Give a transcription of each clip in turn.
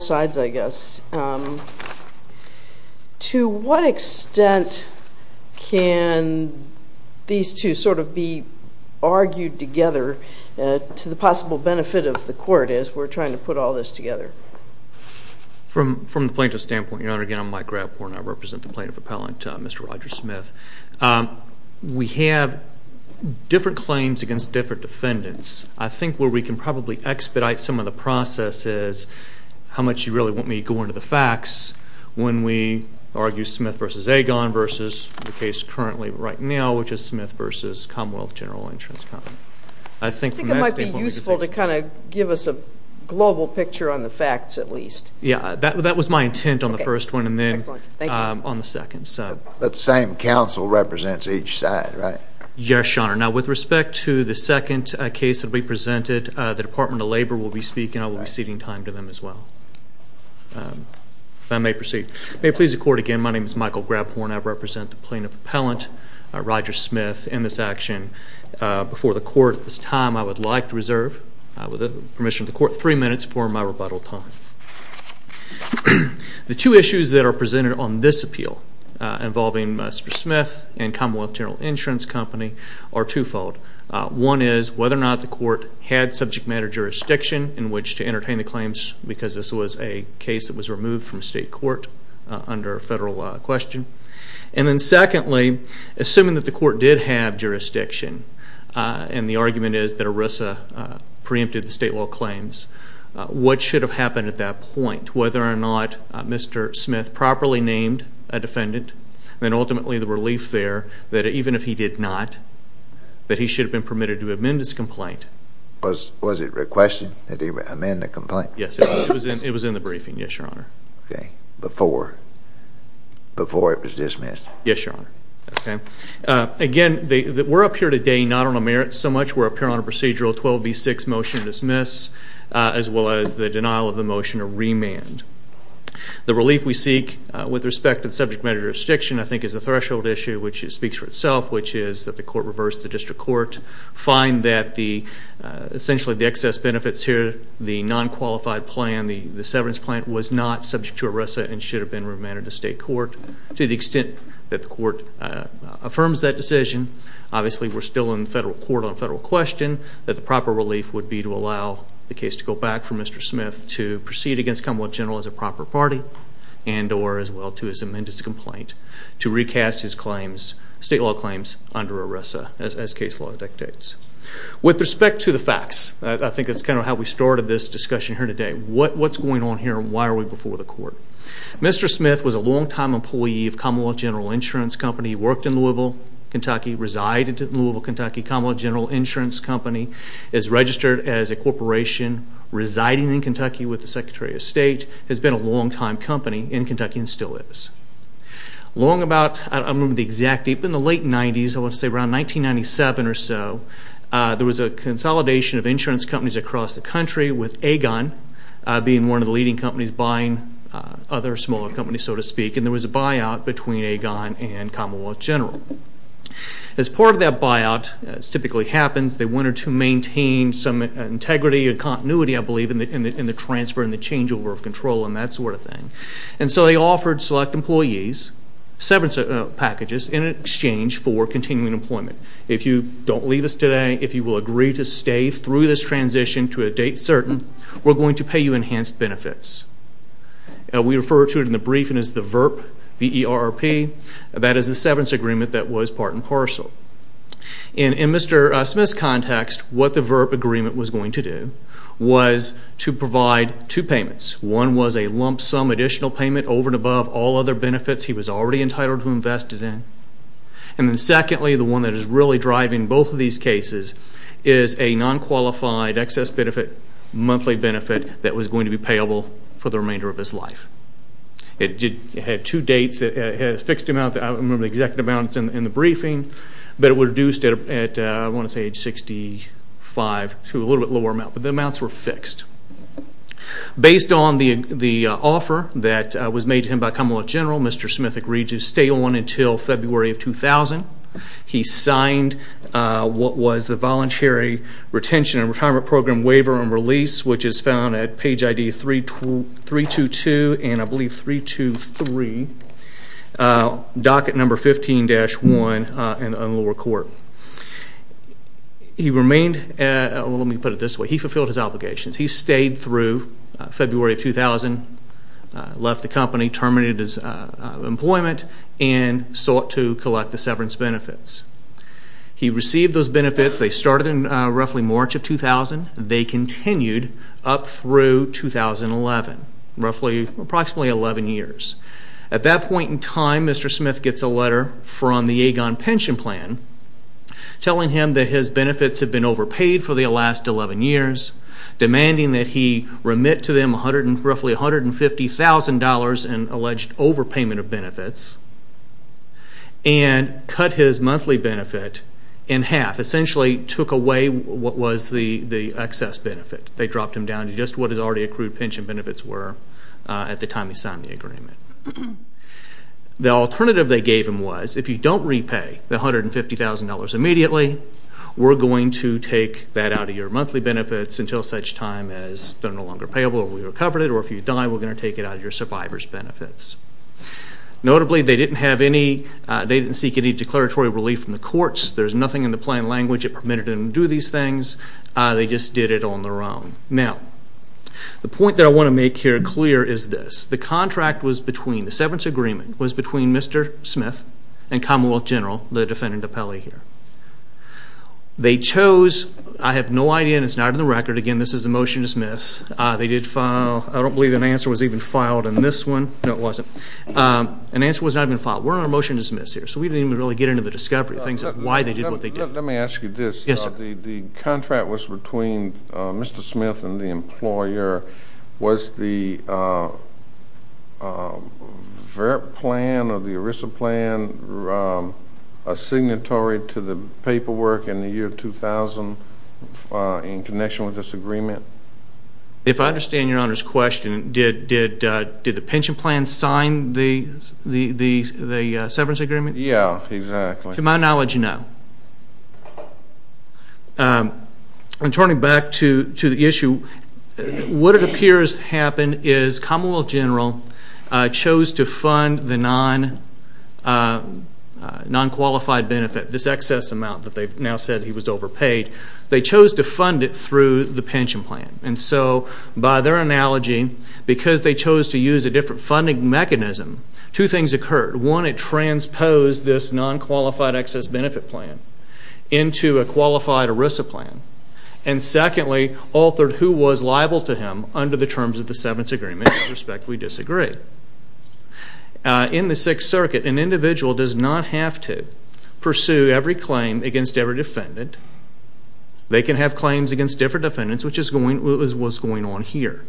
sides, I guess. To what extent can these two sort of be argued together to the possible benefit of the court as we're trying to put all this together? From from the plaintiff's standpoint, Your Honor, again, I'm Mike Grabhorn. I represent the plaintiff appellant, Mr. Roger Smith. We have different claims against different defendants. I think where we can probably expedite some of the process is how much you really want me to go into the facts when we argue Smith v. Agon versus the case currently right now, which is Smith v. Commonwealth General Insurance Company. I think it might be useful to kind of give us a global picture on the facts at least. Yeah, that was my intent on the first one and then on the second. But the same counsel represents each side, right? Yes, Your Honor. Now with respect to the second case that we presented, the Department of Labor will be speaking. I may proceed. May it please the court, again, my name is Michael Grabhorn. I represent the plaintiff appellant, Roger Smith, in this action. Before the court at this time, I would like to reserve, with the permission of the court, three minutes for my rebuttal time. The two issues that are presented on this appeal involving Mr. Smith and Commonwealth General Insurance Company are twofold. One is whether or not the court had subject matter jurisdiction in which to entertain the case that was removed from state court under a federal question. And then secondly, assuming that the court did have jurisdiction, and the argument is that ERISA preempted the state law claims, what should have happened at that point? Whether or not Mr. Smith properly named a defendant, then ultimately the relief there that even if he did not, that he should have been permitted to amend his complaint. Was it requested that he amend the complaint? Yes, it was in the briefing, yes, your honor. Okay, before it was dismissed? Yes, your honor. Okay, again, we're up here today not on a merit so much, we're up here on a procedural 12b6 motion to dismiss, as well as the denial of the motion to remand. The relief we seek with respect to subject matter jurisdiction, I think, is a threshold issue which speaks for itself, which is that the court reversed the district court, find that the, essentially, the excess benefits here, the non-qualified plan, the severance plan, was not subject to ERISA and should have been remanded to state court. To the extent that the court affirms that decision, obviously, we're still in federal court on a federal question, that the proper relief would be to allow the case to go back for Mr. Smith to proceed against Commonwealth General as a proper party, and or as well to his amended complaint, to recast his claims, state law claims, under ERISA as case law dictates. With respect to the facts, I think that's kind of how we started this discussion here today. What's going on here and why are we before the court? Mr. Smith was a longtime employee of Commonwealth General Insurance Company, worked in Louisville, Kentucky, resided in Louisville, Kentucky. Commonwealth General Insurance Company is registered as a corporation, residing in Kentucky with the Secretary of State, has been a longtime company in Kentucky and still is. Long about, I don't remember the exact date, but in the late 90s, I want to say around 1997 or so, there was a consolidation of insurance companies across the country with Agon being one of the leading companies buying other smaller companies, so to speak, and there was a buyout between Agon and Commonwealth General. As part of that buyout, as typically happens, they wanted to maintain some integrity and continuity, I believe, in the transfer and the changeover of control and that sort of thing. And so they offered select employees several packages in exchange for continuing employment. If you don't leave us today, if you will agree to stay through this transition to a date certain, we're going to pay you enhanced benefits. We refer to it in the briefing as the VERP, V-E-R-P. That is the severance agreement that was part and parcel. In Mr. Smith's context, what the VERP agreement was going to do was to provide two payments. One was a lump sum additional payment over and above all other benefits he was already entitled to or invested in. And then secondly, the one that is really driving both of these cases is a non-qualified excess benefit, monthly benefit, that was going to be payable for the remainder of his life. It had two dates. It had a fixed amount. I don't remember the exact amounts in the briefing, but it reduced it at, I want to say, age 65 to a little bit lower amount, but the amounts were fixed. Based on the offer that was made to him by Commonwealth General, Mr. Smith agreed to stay on until February of 2000. He signed what was the Voluntary Retention and Retirement Program Waiver and Release, which is found at page ID 322 and I believe 323, docket number 15-1 in the lower court. He remained, let me put it this way, he fulfilled his obligations. He stayed through February of 2000, left the and sought to collect the severance benefits. He received those benefits. They started in roughly March of 2000. They continued up through 2011, roughly approximately 11 years. At that point in time, Mr. Smith gets a letter from the Aegon Pension Plan telling him that his benefits had been overpaid for the last 11 years, demanding that he remit to them roughly $150,000 in alleged overpayment of benefits and cut his monthly benefit in half, essentially took away what was the excess benefit. They dropped him down to just what his already accrued pension benefits were at the time he signed the agreement. The alternative they gave him was, if you don't repay the $150,000 immediately, we're going to take that out of your monthly benefits until such time as they're no longer payable or we recover it or if you die, we're going to take it out of your survivor's benefits. Notably, they didn't seek any declaratory relief from the courts. There's nothing in the plan language that permitted them to do these things. They just did it on their own. Now, the point that I want to make here clear is this. The contract was between, the severance agreement was between Mr. Smith and Commonwealth General, the defendant Apelli here. They chose, I have no idea and it's not in the record. Again, this is a motion to dismiss. They did file, I don't believe an answer was even filed in this one. No, it wasn't. An answer was not even filed. We're on a motion to dismiss here, so we didn't even really get into the discovery of things, why they did what they did. Let me ask you this. Yes, sir. The contract was between Mr. Smith and the employer. Was the VRT plan or the ERISA plan a signatory to the paperwork in the year 2000 in connection with this issue? Did the pension plan sign the severance agreement? Yeah, exactly. To my knowledge, no. And turning back to the issue, what it appears happened is Commonwealth General chose to fund the non-qualified benefit, this excess amount that they've now said he was overpaid. They chose to fund it through the pension plan. And so by their analogy, because they chose to use a different funding mechanism, two things occurred. One, it transposed this non-qualified excess benefit plan into a qualified ERISA plan. And secondly, altered who was liable to him under the terms of the severance agreement. In respect, we disagree. In the Sixth Circuit, an individual does not have to pursue every claim against every defendant. They can have claims against different defendants, which is what's going on here.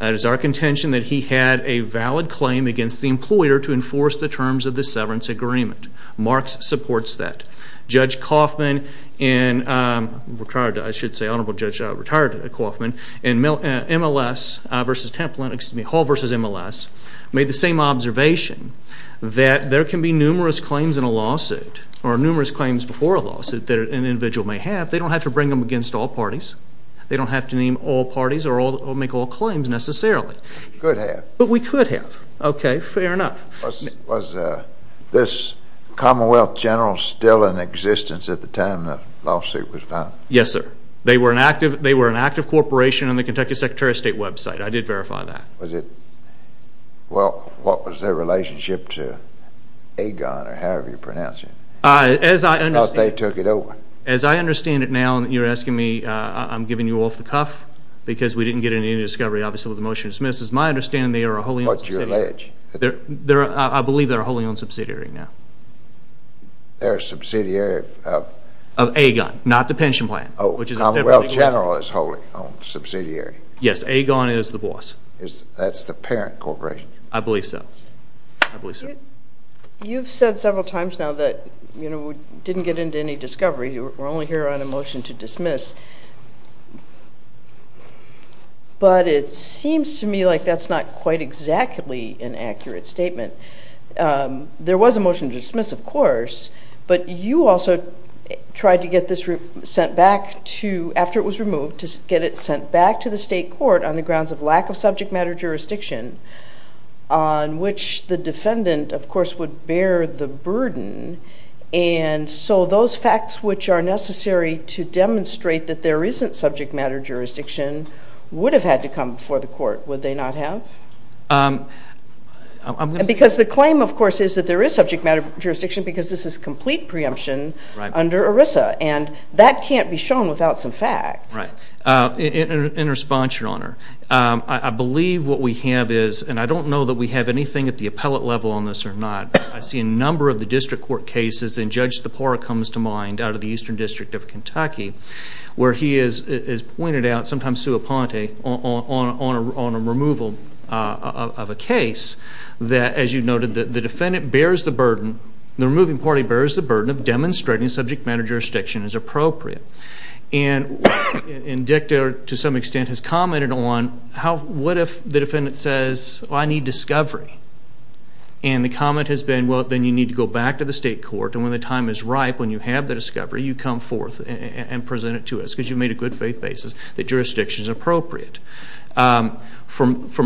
It is our contention that he had a valid claim against the employer to enforce the terms of the severance agreement. Marks supports that. Judge Coffman and retired, I should say Honorable Judge Coffman and MLS versus Templin, excuse me, Hall versus MLS, made the same observation that there can be numerous claims in a lawsuit or numerous claims before a lawsuit that an individual may have. They don't have to bring them against all parties. They don't have to name all parties or make all claims necessarily. Could have. But we could have. Okay, fair enough. Was this Commonwealth General still in existence at the time the lawsuit was found? Yes, sir. They were an active corporation on the Kentucky Secretary of State website. I did verify that. Was it, well, what was their relationship to AGON or however you pronounce it? As I understand it, as I understand it now, and you're asking me, I'm giving you off the cuff because we didn't get into any discovery, obviously, with the motion dismissed. As my understanding, they are a wholly owned subsidiary. I believe they're a wholly owned subsidiary now. They're a subsidiary of? Of AGON, not the pension plan. Oh, Commonwealth General is a wholly owned subsidiary. Yes, AGON is the boss. That's the parent corporation. I believe so. You've said several times now that we didn't get into any discovery. We're only here on a motion to dismiss. But it seems to me like that's not quite exactly an accurate statement. There was a motion to dismiss, of course, but you also tried to get this sent back to, after it was removed, to get it sent back to the state court on the grounds of lack of subject matter jurisdiction on which the defendant, of course, would bear the burden. And so those facts which are necessary to demonstrate that there isn't subject matter jurisdiction would have had to come before the court, would they not have? Because the claim, of course, is that there is subject matter jurisdiction because this is complete preemption under ERISA, and that can't be shown without some facts. In response, Your Honor, I believe what we have is, and I don't know that we have anything at the appellate level on this or not, I see a number of the district court cases, and Judge Tepora comes to mind out of the Eastern District of Kentucky, where he has pointed out, sometimes to Aponte, on a removal of a case that, as you noted, the defendant bears the burden, the removing party bears the burden of demonstrating subject matter jurisdiction is appropriate. And Dictor, to some extent, has commented on how, what if the defendant says, I need discovery? And the comment has been, well, then you need to go back to the state court, and when the time is ripe, when you have the discovery, you come forth and present it to us because you made a good faith basis that jurisdiction is appropriate. From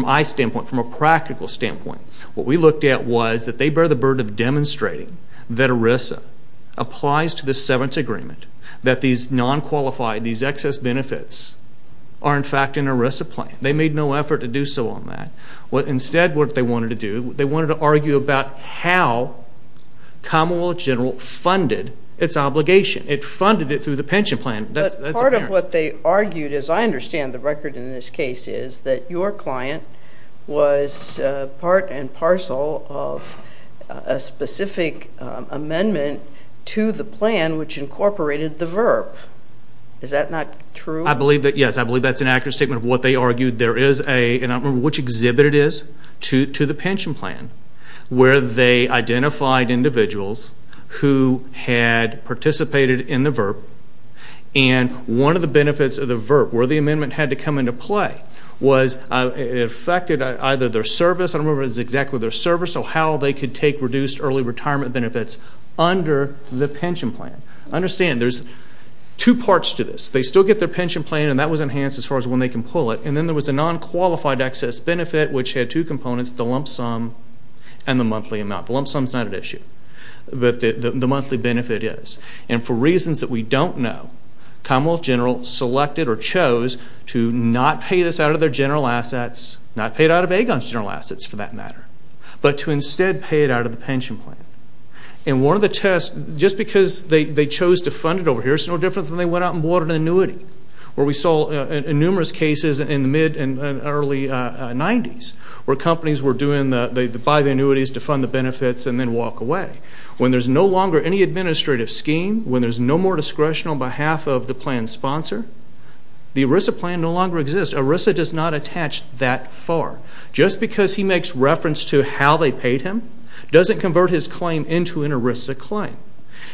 my standpoint, from a practical standpoint, what we looked at was that they bear the burden of demonstrating that ERISA applies to the seventh agreement, that these non-qualified, these excess benefits are, in fact, in ERISA plan. They made no effort to do so on that. Instead, what they wanted to do, they wanted to argue about how Commonwealth General funded its obligation. It funded it through the pension plan. That's apparent. But part of what they argued, as I understand the record in this case, is that your client was part and parcel of a specific amendment to the plan which incorporated the VERP. Is that not true? I believe that, yes. I believe that's an accurate statement of what they argued. There is a, and I don't remember which exhibit it is, to the pension plan, where they identified individuals who had participated in the VERP, and one of the benefits of the VERP, where the amendment had to come into play, was it affected either their service, I don't remember if it was exactly their service, or how they could take reduced early retirement benefits under the pension plan. Understand, there's two parts to this. They still get their pension plan, and that was enhanced as far as when they can pull it, and then there was a non-qualified excess benefit which had two components, the lump sum and the monthly amount. The lump sum's not an issue, but the monthly benefit is. And for reasons that we don't know, Commonwealth General selected or chose to not pay this out of their general assets, not pay it out of Agon's general assets for that matter, but to instead pay it out of the pension plan. And one of the tests, just because they chose to fund it over here, it's no different than they went out and bought an annuity, where we saw in numerous cases in the mid and early 90s, where companies were doing... They'd buy the annuities to fund the benefits and then walk away. When there's no longer any administrative scheme, when there's no more discretion on behalf of the plan's sponsor, the ERISA plan no longer exists. ERISA does not attach that far. Just because he makes reference to how they paid him, doesn't convert his claim into an ERISA claim.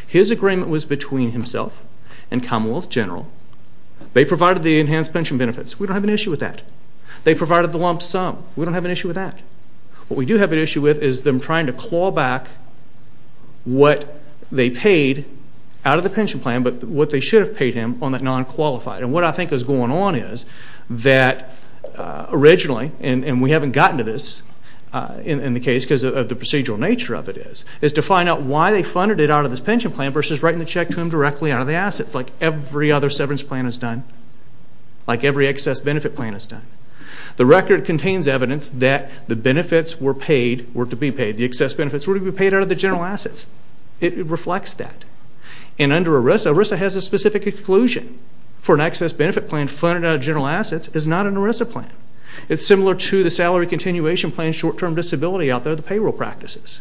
His agreement was between himself and Commonwealth General. They provided the enhanced pension benefits. We don't have an issue with that. They provided the lump sum. We don't have an issue with that. What we do have an issue with is them trying to claw back what they paid out of the pension plan, but what they should have paid him on that non qualified. And what I think is going on is that originally, and we haven't gotten to this in the case, because of the procedural nature of it is, is to find out why they funded it out of this pension plan versus writing the other severance plan is done, like every excess benefit plan is done. The record contains evidence that the benefits were paid, were to be paid. The excess benefits were to be paid out of the general assets. It reflects that. And under ERISA, ERISA has a specific exclusion for an excess benefit plan funded out of general assets is not an ERISA plan. It's similar to the salary continuation plan short term disability out there, the payroll practices.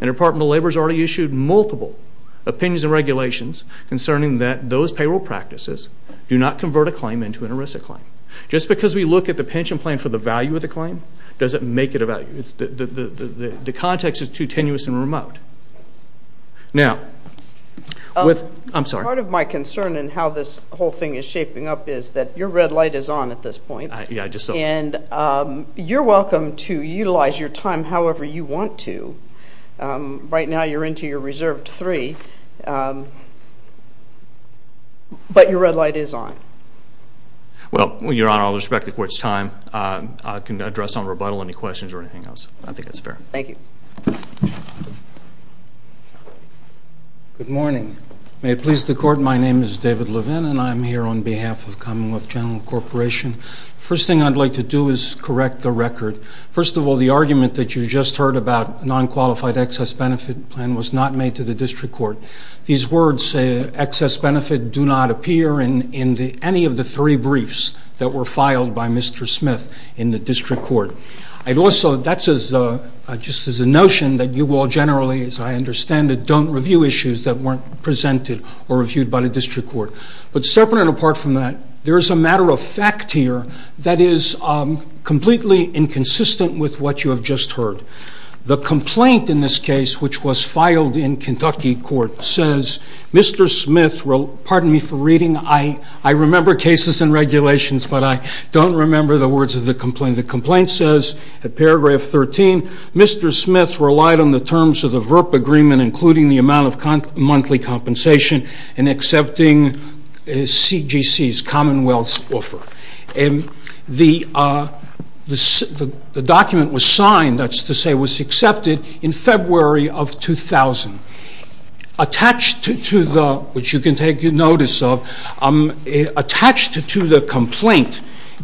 And Department of Labor has already issued multiple opinions and regulations concerning that those payroll practices do not convert a claim into an ERISA claim. Just because we look at the pension plan for the value of the claim doesn't make it a value. The context is too tenuous and remote. Now, with... I'm sorry. Part of my concern in how this whole thing is shaping up is that your red light is on at this point. Yeah, I just saw it. And you're welcome to utilize your time however you want to. Right now, you're into your reserved three, but your red light is on. Well, Your Honor, I'll respect the court's time. I can address on rebuttal any questions or anything else. I think that's fair. Thank you. Good morning. May it please the court. My name is David Levin and I'm here on behalf of Commonwealth General Corporation. First thing I'd like to do is correct the record. First of all, the argument that you just heard about non qualified excess benefit plan was not made to the district court. These words, excess benefit, do not appear in any of the three briefs that were filed by Mr. Smith in the district court. I'd also... That's just as a notion that you all generally, as I understand it, don't review issues that weren't presented or reviewed by the district court. But separate and apart from that, there is a matter of fact here that is completely inconsistent with what you have just heard. The complaint in this case, which was filed in Kentucky court, says Mr. Smith... Pardon me for reading. I remember cases and regulations, but I don't remember the words of the complaint. The complaint says, at paragraph 13, Mr. Smith relied on the terms of the VRP agreement, including the amount of monthly compensation and accepting CGC's Commonwealth's offer. And the document was signed, that's to say, was accepted in February of 2000. Attached to the... Which you can take notice of... Attached to the complaint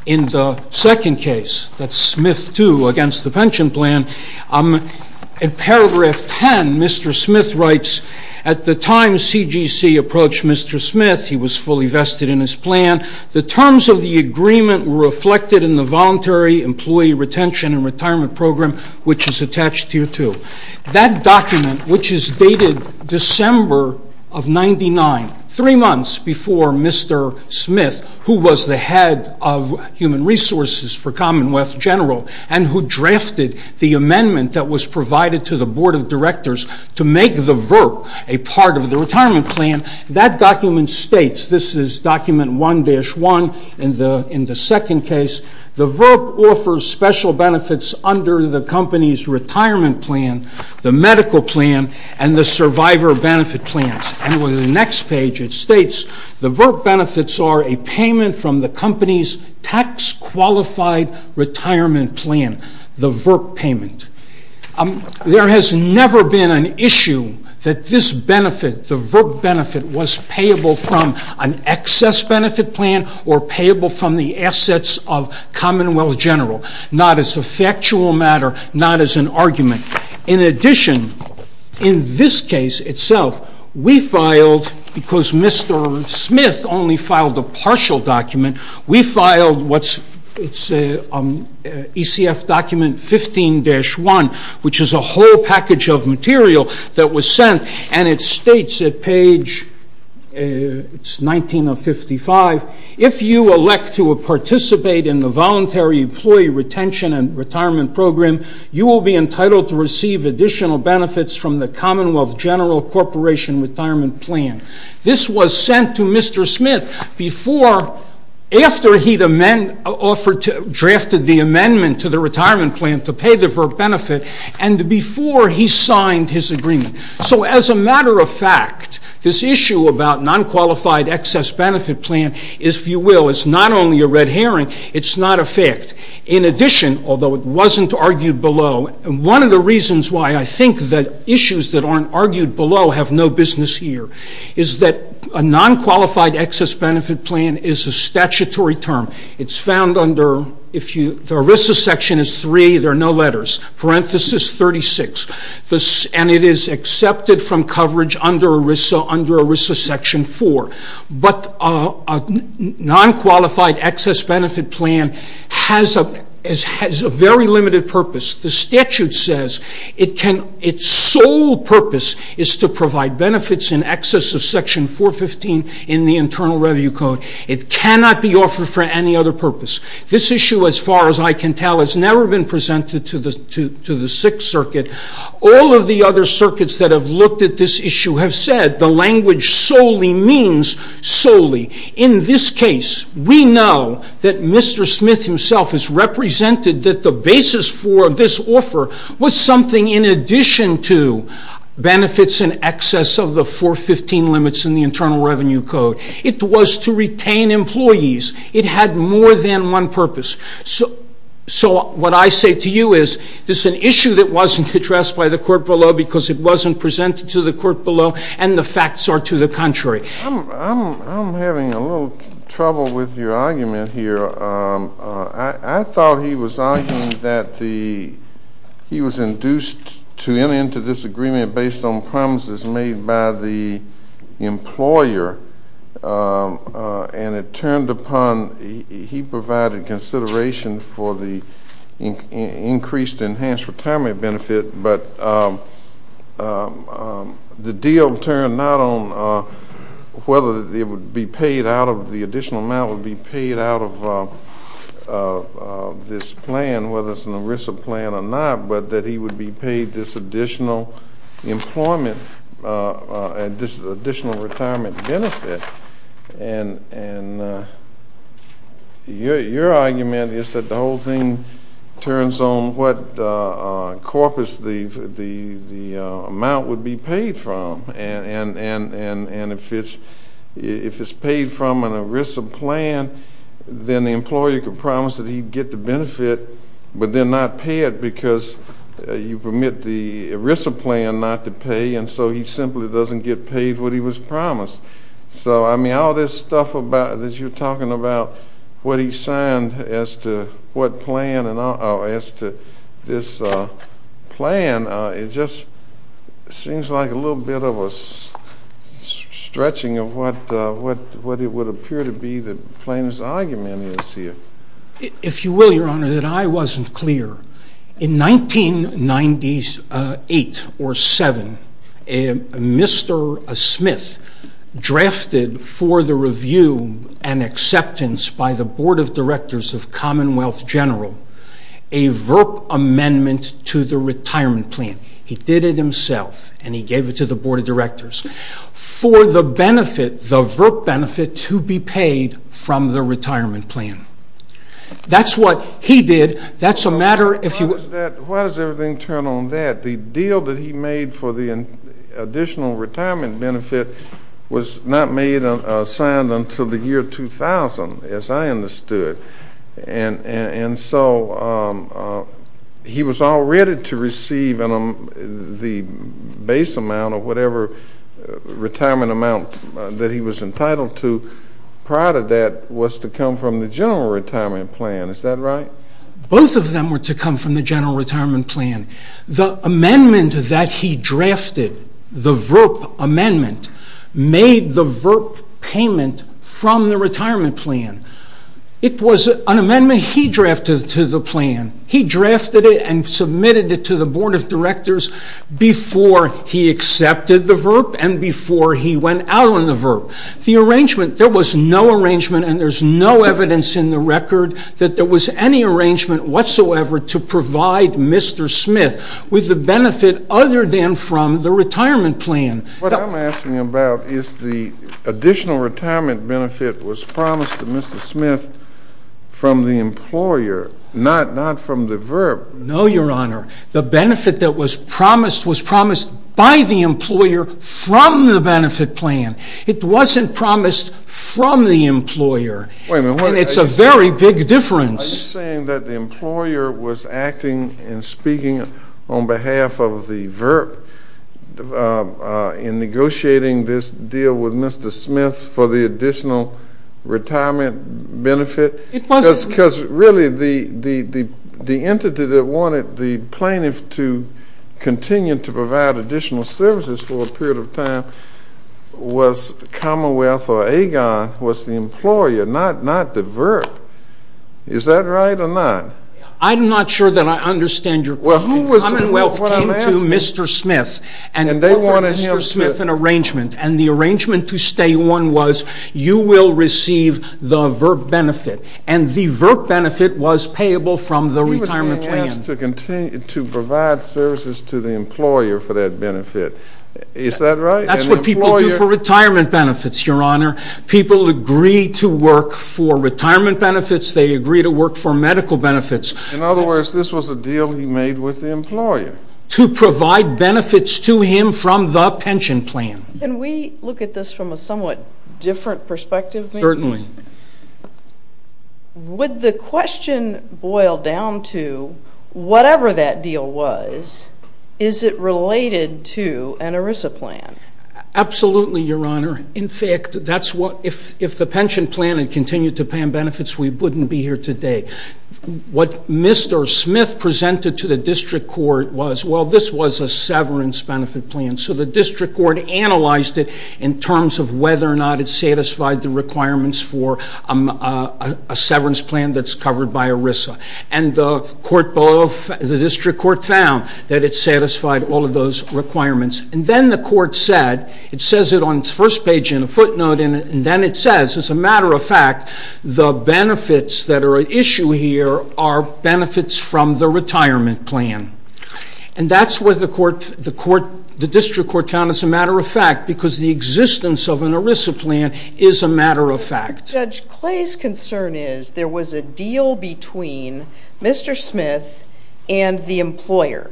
in the second case, that's Smith 2, against the pension plan, at paragraph 10, Mr. Smith writes, at the time CGC approached Mr. Smith, he was fully vested in his plan, the terms of the agreement were reflected in the voluntary employee retention and retirement program, which is attached here too. That document, which is dated December of 99, three months before Mr. Smith, who was the head of human resources for Commonwealth General, and who drafted the VRP, a part of the retirement plan, that document states, this is document 1-1 in the second case, the VRP offers special benefits under the company's retirement plan, the medical plan, and the survivor benefit plans. And on the next page it states, the VRP benefits are a payment from the company's tax qualified retirement plan, the VRP payment. There has never been an issue that this benefit, the VRP benefit, was payable from an excess benefit plan or payable from the assets of Commonwealth General, not as a factual matter, not as an argument. In addition, in this case itself, we filed, because Mr. Smith only filed a partial document, we filed what's, it's an ECF document 15-1, which is a whole package of material that was sent, and it states at page, it's 19 of 55, if you elect to participate in the voluntary employee retention and retirement program, you will be entitled to receive additional benefits from the Mr. Smith before, after he'd amend, offered to, drafted the amendment to the retirement plan to pay the VRP benefit, and before he signed his agreement. So as a matter of fact, this issue about non-qualified excess benefit plan, if you will, is not only a red herring, it's not a fact. In addition, although it wasn't argued below, one of the reasons why I think that issues that aren't argued below have no business here, is that a non-qualified excess benefit plan is a statutory term. It's found under, if you, the ERISA section is 3, there are no letters, parenthesis 36, and it is accepted from coverage under ERISA, under ERISA section 4, but a non-qualified excess benefit plan has a very limited purpose. The statute says it can, its sole purpose is to provide benefits in excess of section 415 in the Internal Review Code. It cannot be offered for any other purpose. This issue, as far as I can tell, has never been presented to the Sixth Circuit. All of the other circuits that have looked at this issue have said the language solely means solely. In this case, we know that Mr. Davis's, for this offer, was something in addition to benefits in excess of the 415 limits in the Internal Revenue Code. It was to retain employees. It had more than one purpose. So what I say to you is, this is an issue that wasn't addressed by the court below because it wasn't presented to the court below, and the facts are to the contrary. I'm having a little trouble with your argument here. I thought he was arguing that the, he was induced to enter this agreement based on promises made by the employer, and it turned upon, he provided consideration for the increased enhanced retirement benefit, but the deal turned not on whether it would be paid out of, the additional amount would be paid out of this plan, whether it's an ERISA plan or not, but that he would be paid this additional employment, this additional retirement benefit, and your argument is that the whole thing turns on what corpus the amount would be then the employer could promise that he'd get the benefit, but then not pay it because you permit the ERISA plan not to pay, and so he simply doesn't get paid what he was promised. So I mean, all this stuff about, that you're talking about, what he signed as to what plan, and as to this plan, it just seems like a little bit of a stretching of what it would appear to be the plaintiff's argument. If you will, your honor, that I wasn't clear. In 1998 or 7, Mr. Smith drafted for the review and acceptance by the Board of Directors of Commonwealth General a VERP amendment to the retirement plan. He did it himself, and he gave it to the Board of Directors for the benefit, the VERP benefit to be paid from the retirement plan. That's what he did. That's a matter, if you will... Why does everything turn on that? The deal that he made for the additional retirement benefit was not made, signed until the year 2000, as I understood, and so he was all ready to receive the base amount of whatever retirement amount that he was entitled to prior to that was to come from the general retirement plan. Is that right? Both of them were to come from the general retirement plan. The amendment that he drafted, the VERP amendment, made the VERP payment from the retirement plan. It was an amendment he drafted to the plan. He drafted it and submitted it to the Board of Directors before he accepted the VERP and before he went out on the VERP. The arrangement, there was no arrangement and there's no evidence in the record that there was any arrangement whatsoever to provide Mr. Smith with the benefit other than from the retirement plan. What I'm asking about is the additional retirement benefit was promised to Mr. Smith from the employer, not from the VERP. No, Your Honor. The benefit that was promised by the employer from the benefit plan. It wasn't promised from the employer and it's a very big difference. Are you saying that the employer was acting and speaking on behalf of the VERP in negotiating this deal with Mr. Smith for the additional retirement benefit? It wasn't. Because really the entity that wanted the plaintiff to continue to provide additional services for a period of time was Commonwealth or Agon, was the employer, not the VERP. Is that right or not? I'm not sure that I understand your question. Commonwealth came to Mr. Smith and offered Mr. Smith an arrangement and the arrangement to stay on was you will receive the VERP benefit and the VERP benefit was payable from the retirement plan. To provide services to the employer for that benefit, is that right? That's what people do for retirement benefits, Your Honor. People agree to work for retirement benefits, they agree to work for medical benefits. In other words, this was a deal he made with the employer. To provide benefits to him from the pension plan. Can we look at this from a somewhat different perspective? Certainly. Would the whatever that deal was, is it related to an ERISA plan? Absolutely, Your Honor. In fact, if the pension plan had continued to pay him benefits, we wouldn't be here today. What Mr. Smith presented to the District Court was, well, this was a severance benefit plan. So the District Court analyzed it in terms of whether or not it satisfied the requirements for a severance plan that's the District Court found that it satisfied all of those requirements. And then the court said, it says it on its first page in a footnote, and then it says, as a matter of fact, the benefits that are at issue here are benefits from the retirement plan. And that's what the District Court found as a matter of fact, because the existence of an ERISA plan is a matter of fact. Judge Clay's concern is there was a deal between Mr. Smith and the employer.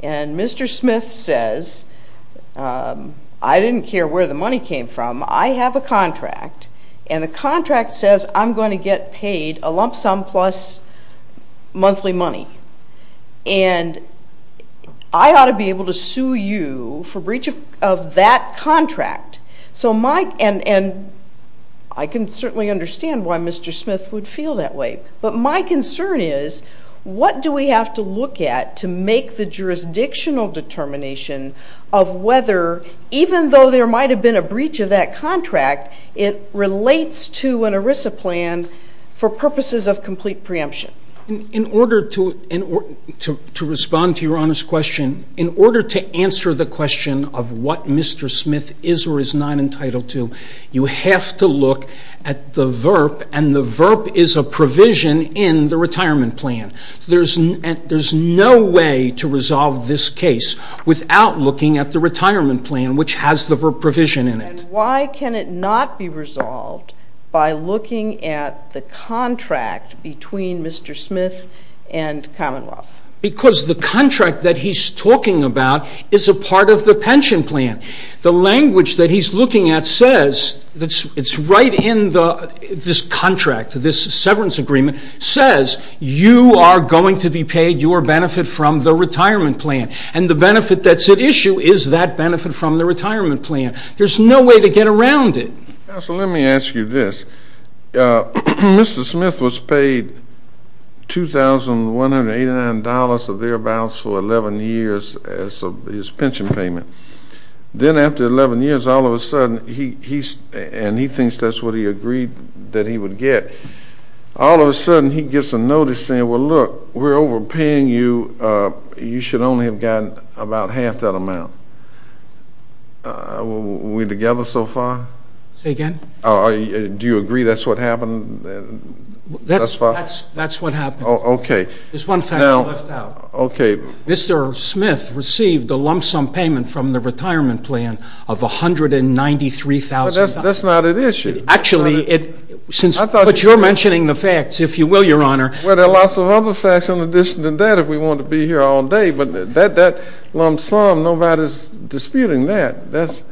And Mr. Smith says, I didn't care where the money came from, I have a contract. And the contract says I'm going to get paid a lump sum plus monthly money. And I ought to be able to sue you for breach of that contract. So my, and I can certainly understand why Mr. Smith would feel that way. But my concern is, what do we have to look at to make the jurisdictional determination of whether, even though there might have been a breach of that contract, it relates to an ERISA plan for purposes of complete preemption? In order to respond to your Honor's question, in order to answer the question of what Mr. Smith is or is not entitled to, you have to look at the VERP. And the VERP is a provision in the retirement plan. There's no way to resolve this case without looking at the retirement plan, which has the VERP provision in it. And why can it not be resolved by looking at the contract between Mr. Smith and Commonwealth? Because the contract that he's talking about is a part of the pension plan. The language that he's looking at says that it's right in the, this contract, this severance agreement, says you are going to be paid your benefit from the retirement plan. And the benefit that's at issue is that benefit from the retirement plan. There's no way to get around it. Counsel, let me ask you this. Mr. Smith was paid $2,189 of their balance for 11 years as his pension payment. Then after 11 years, all of a sudden, he's, and he thinks that's what he agreed that he would get. All of a sudden, he gets a notice saying, well, look, we're overpaying you. You should only have gotten about half that amount. We together so far? Say again? Do you agree that's what happened? That's what happened. Okay. There's one fact left out. Okay. Mr. Smith received a lump sum payment from the $193,000. That's not at issue. Actually, it, since, but you're mentioning the facts, if you will, Your Honor. Well, there are lots of other facts in addition to that if we want to be here all day, but that lump sum, nobody's disputing that. That's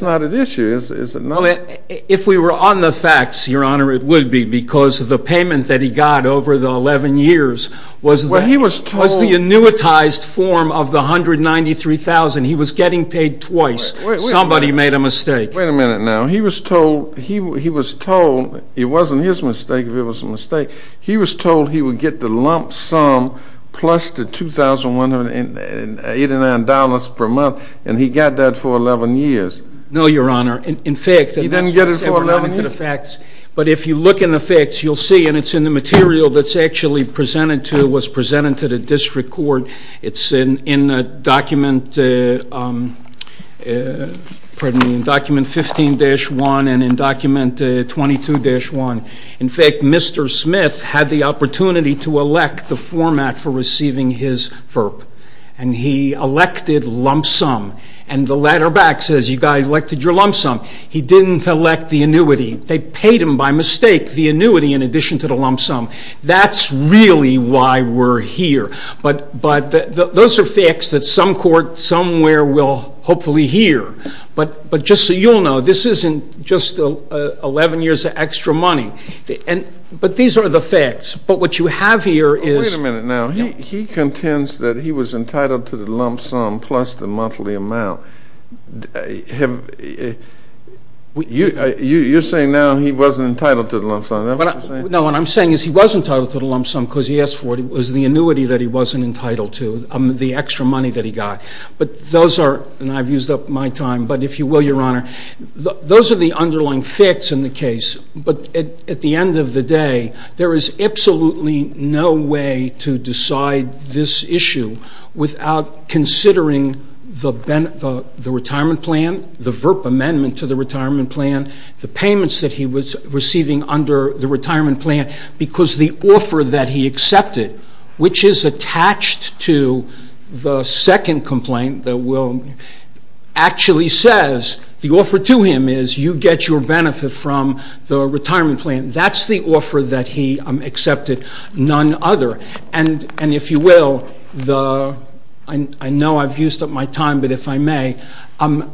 not at issue. Well, if we were on the facts, Your Honor, it would be because of the payment that he got over the 11 years was the annuitized form of the $193,000. He was getting paid twice. Somebody made a mistake. Wait a minute now. He was told, he was told, it wasn't his mistake if it was a mistake, he was told he would get the lump sum plus the $2,189 per month, and he got that for 11 years. No, Your Honor. In fact, he didn't get it for 11 years. But if you look in the facts, you'll see, and it's in the material that's actually presented to, was in the document, pardon me, in document 15-1 and in document 22-1. In fact, Mr. Smith had the opportunity to elect the format for receiving his FERP, and he elected lump sum, and the letter back says, you guys elected your lump sum. He didn't elect the annuity. They paid him by mistake the annuity in addition to the lump sum. That's really why we're here. But, but those are facts that some court somewhere will hopefully hear. But, but just so you'll know, this isn't just 11 years of extra money. And, but these are the facts. But what you have here is... Wait a minute now. He contends that he was entitled to the lump sum plus the monthly amount. You, you're saying now he wasn't entitled to the lump sum. No, what I'm saying is he was entitled to the lump sum because he asked for it. It was the annuity that he wasn't entitled to, the extra money that he got. But those are, and I've used up my time, but if you will, Your Honor, those are the underlying facts in the case. But at the end of the day, there is absolutely no way to decide this issue without considering the, the retirement plan, the FERP amendment to the retirement plan, the payments that he was receiving under the retirement plan, because the offer that he accepted, which is attached to the second complaint that will actually says, the offer to him is you get your benefit from the retirement plan. That's the offer that he accepted, none other. And, and if you will, the, I know I've used up my time, but if I may, an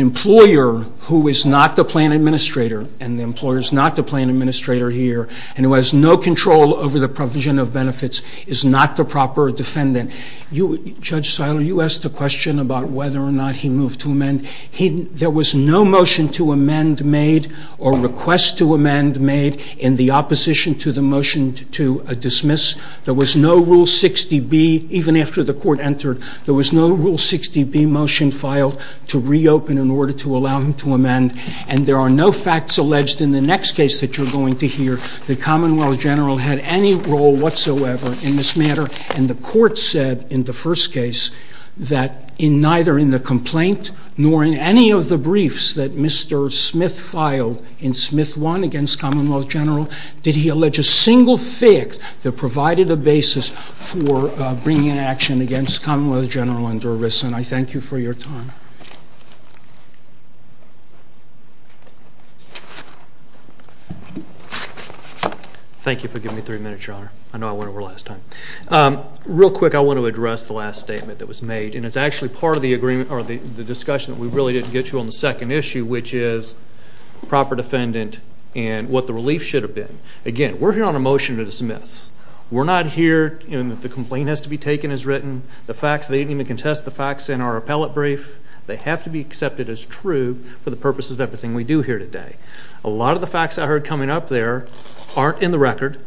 employer who is not the plan administrator, and the employer is not the plan administrator here, and who has no control over the provision of benefits is not the proper defendant. You, Judge Seiler, you asked a question about whether or not he moved to amend. He, there was no motion to amend made or request to amend made in the opposition to the motion to dismiss. There was no Rule 60B, even after the court entered, there was no Rule 60B motion filed to reopen in order to allow him to amend. And there are no facts alleged in the next case that you're going to hear that Commonwealth General had any role whatsoever in this matter. And the court said in the first case that in neither in the complaint, nor in any of the briefs that Mr. Smith filed in Smith 1 against Commonwealth General, did he allege a single fact that provided a basis for bringing an action against Commonwealth General under arrest. And I thank you for your time. Thank you for giving me three minutes, Your Honor. I know I went over last time. Real quick, I want to address the last statement that was made, and it's actually part of the agreement, or the discussion that we really didn't get to on the second issue, which is proper defendant and what the relief should have been. Again, we're here on a motion to dismiss. We're not here in that the complaint has to be taken as written, the facts, they didn't even contest the facts in our appellate brief. They have to be accepted as true for the purposes of everything we do here today. A lot of the facts I heard coming up there aren't in the record.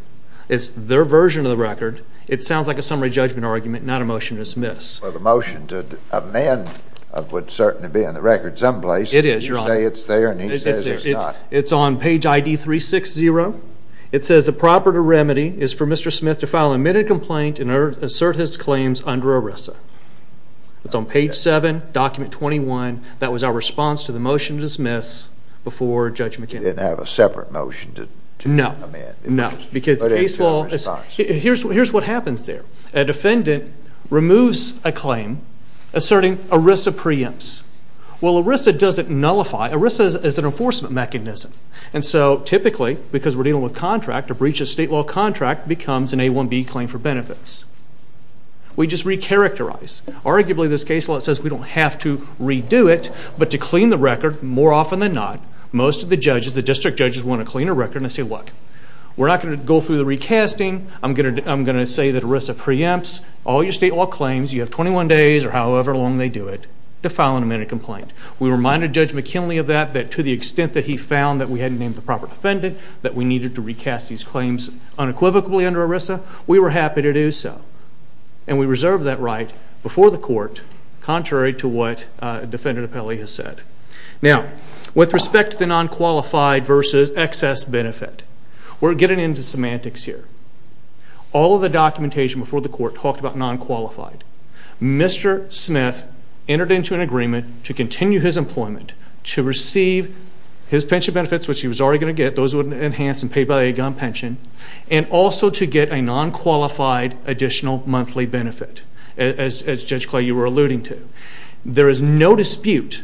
It's their version of the record. It sounds like a summary judgment argument, not a motion to dismiss. Well, the motion to amend would certainly be in the record someplace. It is, Your Honor. You say it's there, and he says it's not. It's on page ID 360. It says the proper remedy is for Mr. Smith to file an admitted complaint in court. It's on page 7, document 21. That was our response to the motion to dismiss before Judge McKinnon. You didn't have a separate motion to amend? No, no, because the case law... Here's what happens there. A defendant removes a claim asserting ERISA preempts. Well, ERISA doesn't nullify. ERISA is an enforcement mechanism, and so typically, because we're dealing with contract, a breach of state law contract becomes an A1B claim for benefits. We just recharacterize. Arguably, this case law says we don't have to redo it, but to clean the record, more often than not, most of the judges, the district judges, want to clean a record and say, look, we're not going to go through the recasting. I'm going to say that ERISA preempts all your state law claims. You have 21 days, or however long they do it, to file an amended complaint. We reminded Judge McKinley of that, that to the extent that he found that we hadn't named the proper defendant, that we needed to recast these and we reserved that right before the court, contrary to what Defendant Apelli has said. Now, with respect to the non-qualified versus excess benefit, we're getting into semantics here. All of the documentation before the court talked about non-qualified. Mr. Smith entered into an agreement to continue his employment, to receive his pension benefits, which he was already going to get, those would enhance and pay by a gun pension, and also to get a non-qualified additional monthly benefit, as Judge Clay, you were alluding to. There is no dispute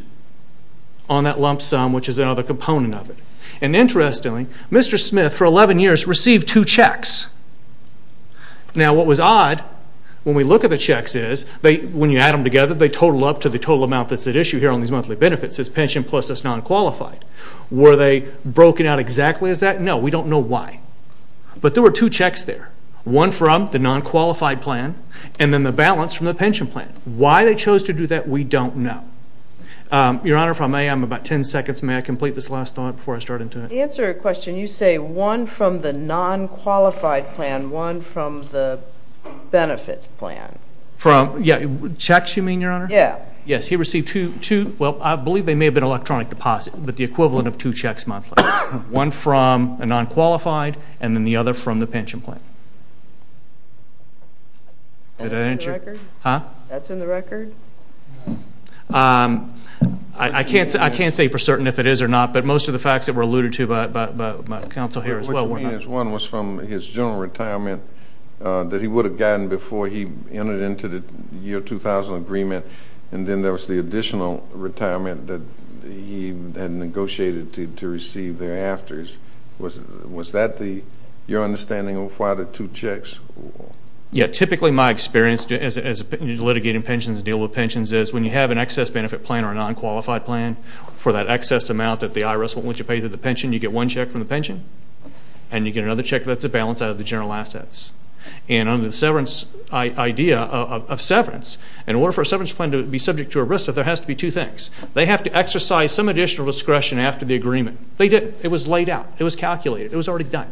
on that lump sum, which is another component of it. And interestingly, Mr. Smith, for 11 years, received two checks. Now, what was odd, when we look at the checks is, when you add them together, they total up to the total amount that's at issue here on these monthly benefits. It's pension plus it's non-qualified. Were they broken out exactly as that? No, we don't know why. But there were two checks there. One from the non-qualified plan, and then the balance from the pension plan. Why they chose to do that, we don't know. Your Honor, if I may, I'm about 10 seconds. May I complete this last thought before I start into it? To answer your question, you say one from the non-qualified plan, one from the benefits plan. From... Yeah. Checks, you mean, Your Honor? Yeah. Yes, he received two... Well, I believe they may have been electronic deposit, but the equivalent of two checks monthly. One from a non-qualified, and then the other from the pension plan. Did I answer... That's in the record? Huh? That's in the record? I can't say for certain if it is or not, but most of the facts that were alluded to by counsel here as well were not... What you mean is one was from his general retirement, that he would have gotten before he entered into the agreement, and then there was the additional retirement that he had negotiated to receive thereafter. Was that your understanding of why the two checks? Yeah. Typically, my experience as you're litigating pensions and dealing with pensions is when you have an excess benefit plan or a non-qualified plan, for that excess amount that the IRS won't let you pay through the pension, you get one check from the pension, and you get another check that's a general assets. And under the idea of severance, in order for a severance plan to be subject to ERISA, there has to be two things. They have to exercise some additional discretion after the agreement. They didn't. It was laid out. It was calculated. It was already done.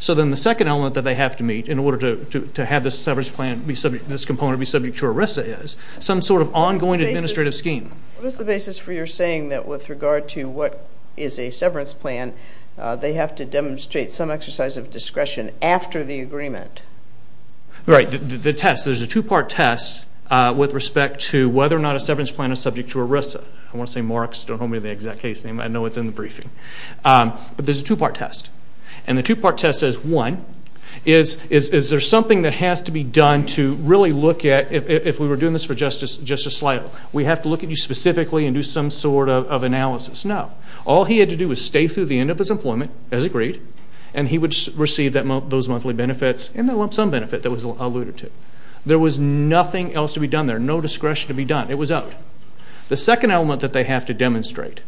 So then the second element that they have to meet in order to have this severance plan, this component be subject to ERISA is some sort of ongoing administrative scheme. What is the basis for your saying that with regard to what is a severance plan, they have to demonstrate some agreement? Right. The test. There's a two-part test with respect to whether or not a severance plan is subject to ERISA. I want to say Marks. Don't hold me to the exact case name. I know it's in the briefing. But there's a two-part test. And the two-part test says, one, is there something that has to be done to really look at, if we were doing this for justice, just a slight, we have to look at you specifically and do some sort of analysis? No. All he had to do was stay through the end of his employment, as agreed, and he would receive those monthly benefits and some benefit that was alluded to. There was nothing else to be done there, no discretion to be done. It was out. The second element that they have to demonstrate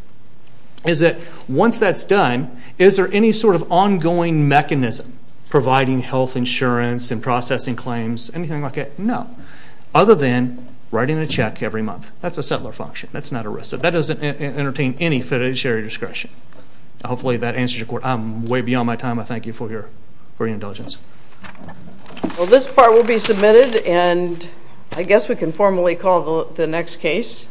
is that once that's done, is there any sort of ongoing mechanism providing health insurance and processing claims, anything like that? No. Other than writing a check every month. That's a settler function. That's not ERISA. That doesn't entertain any fiduciary discretion. Hopefully that answers your way beyond my time. I thank you for your indulgence. Well, this part will be submitted, and I guess we can formally call the next case.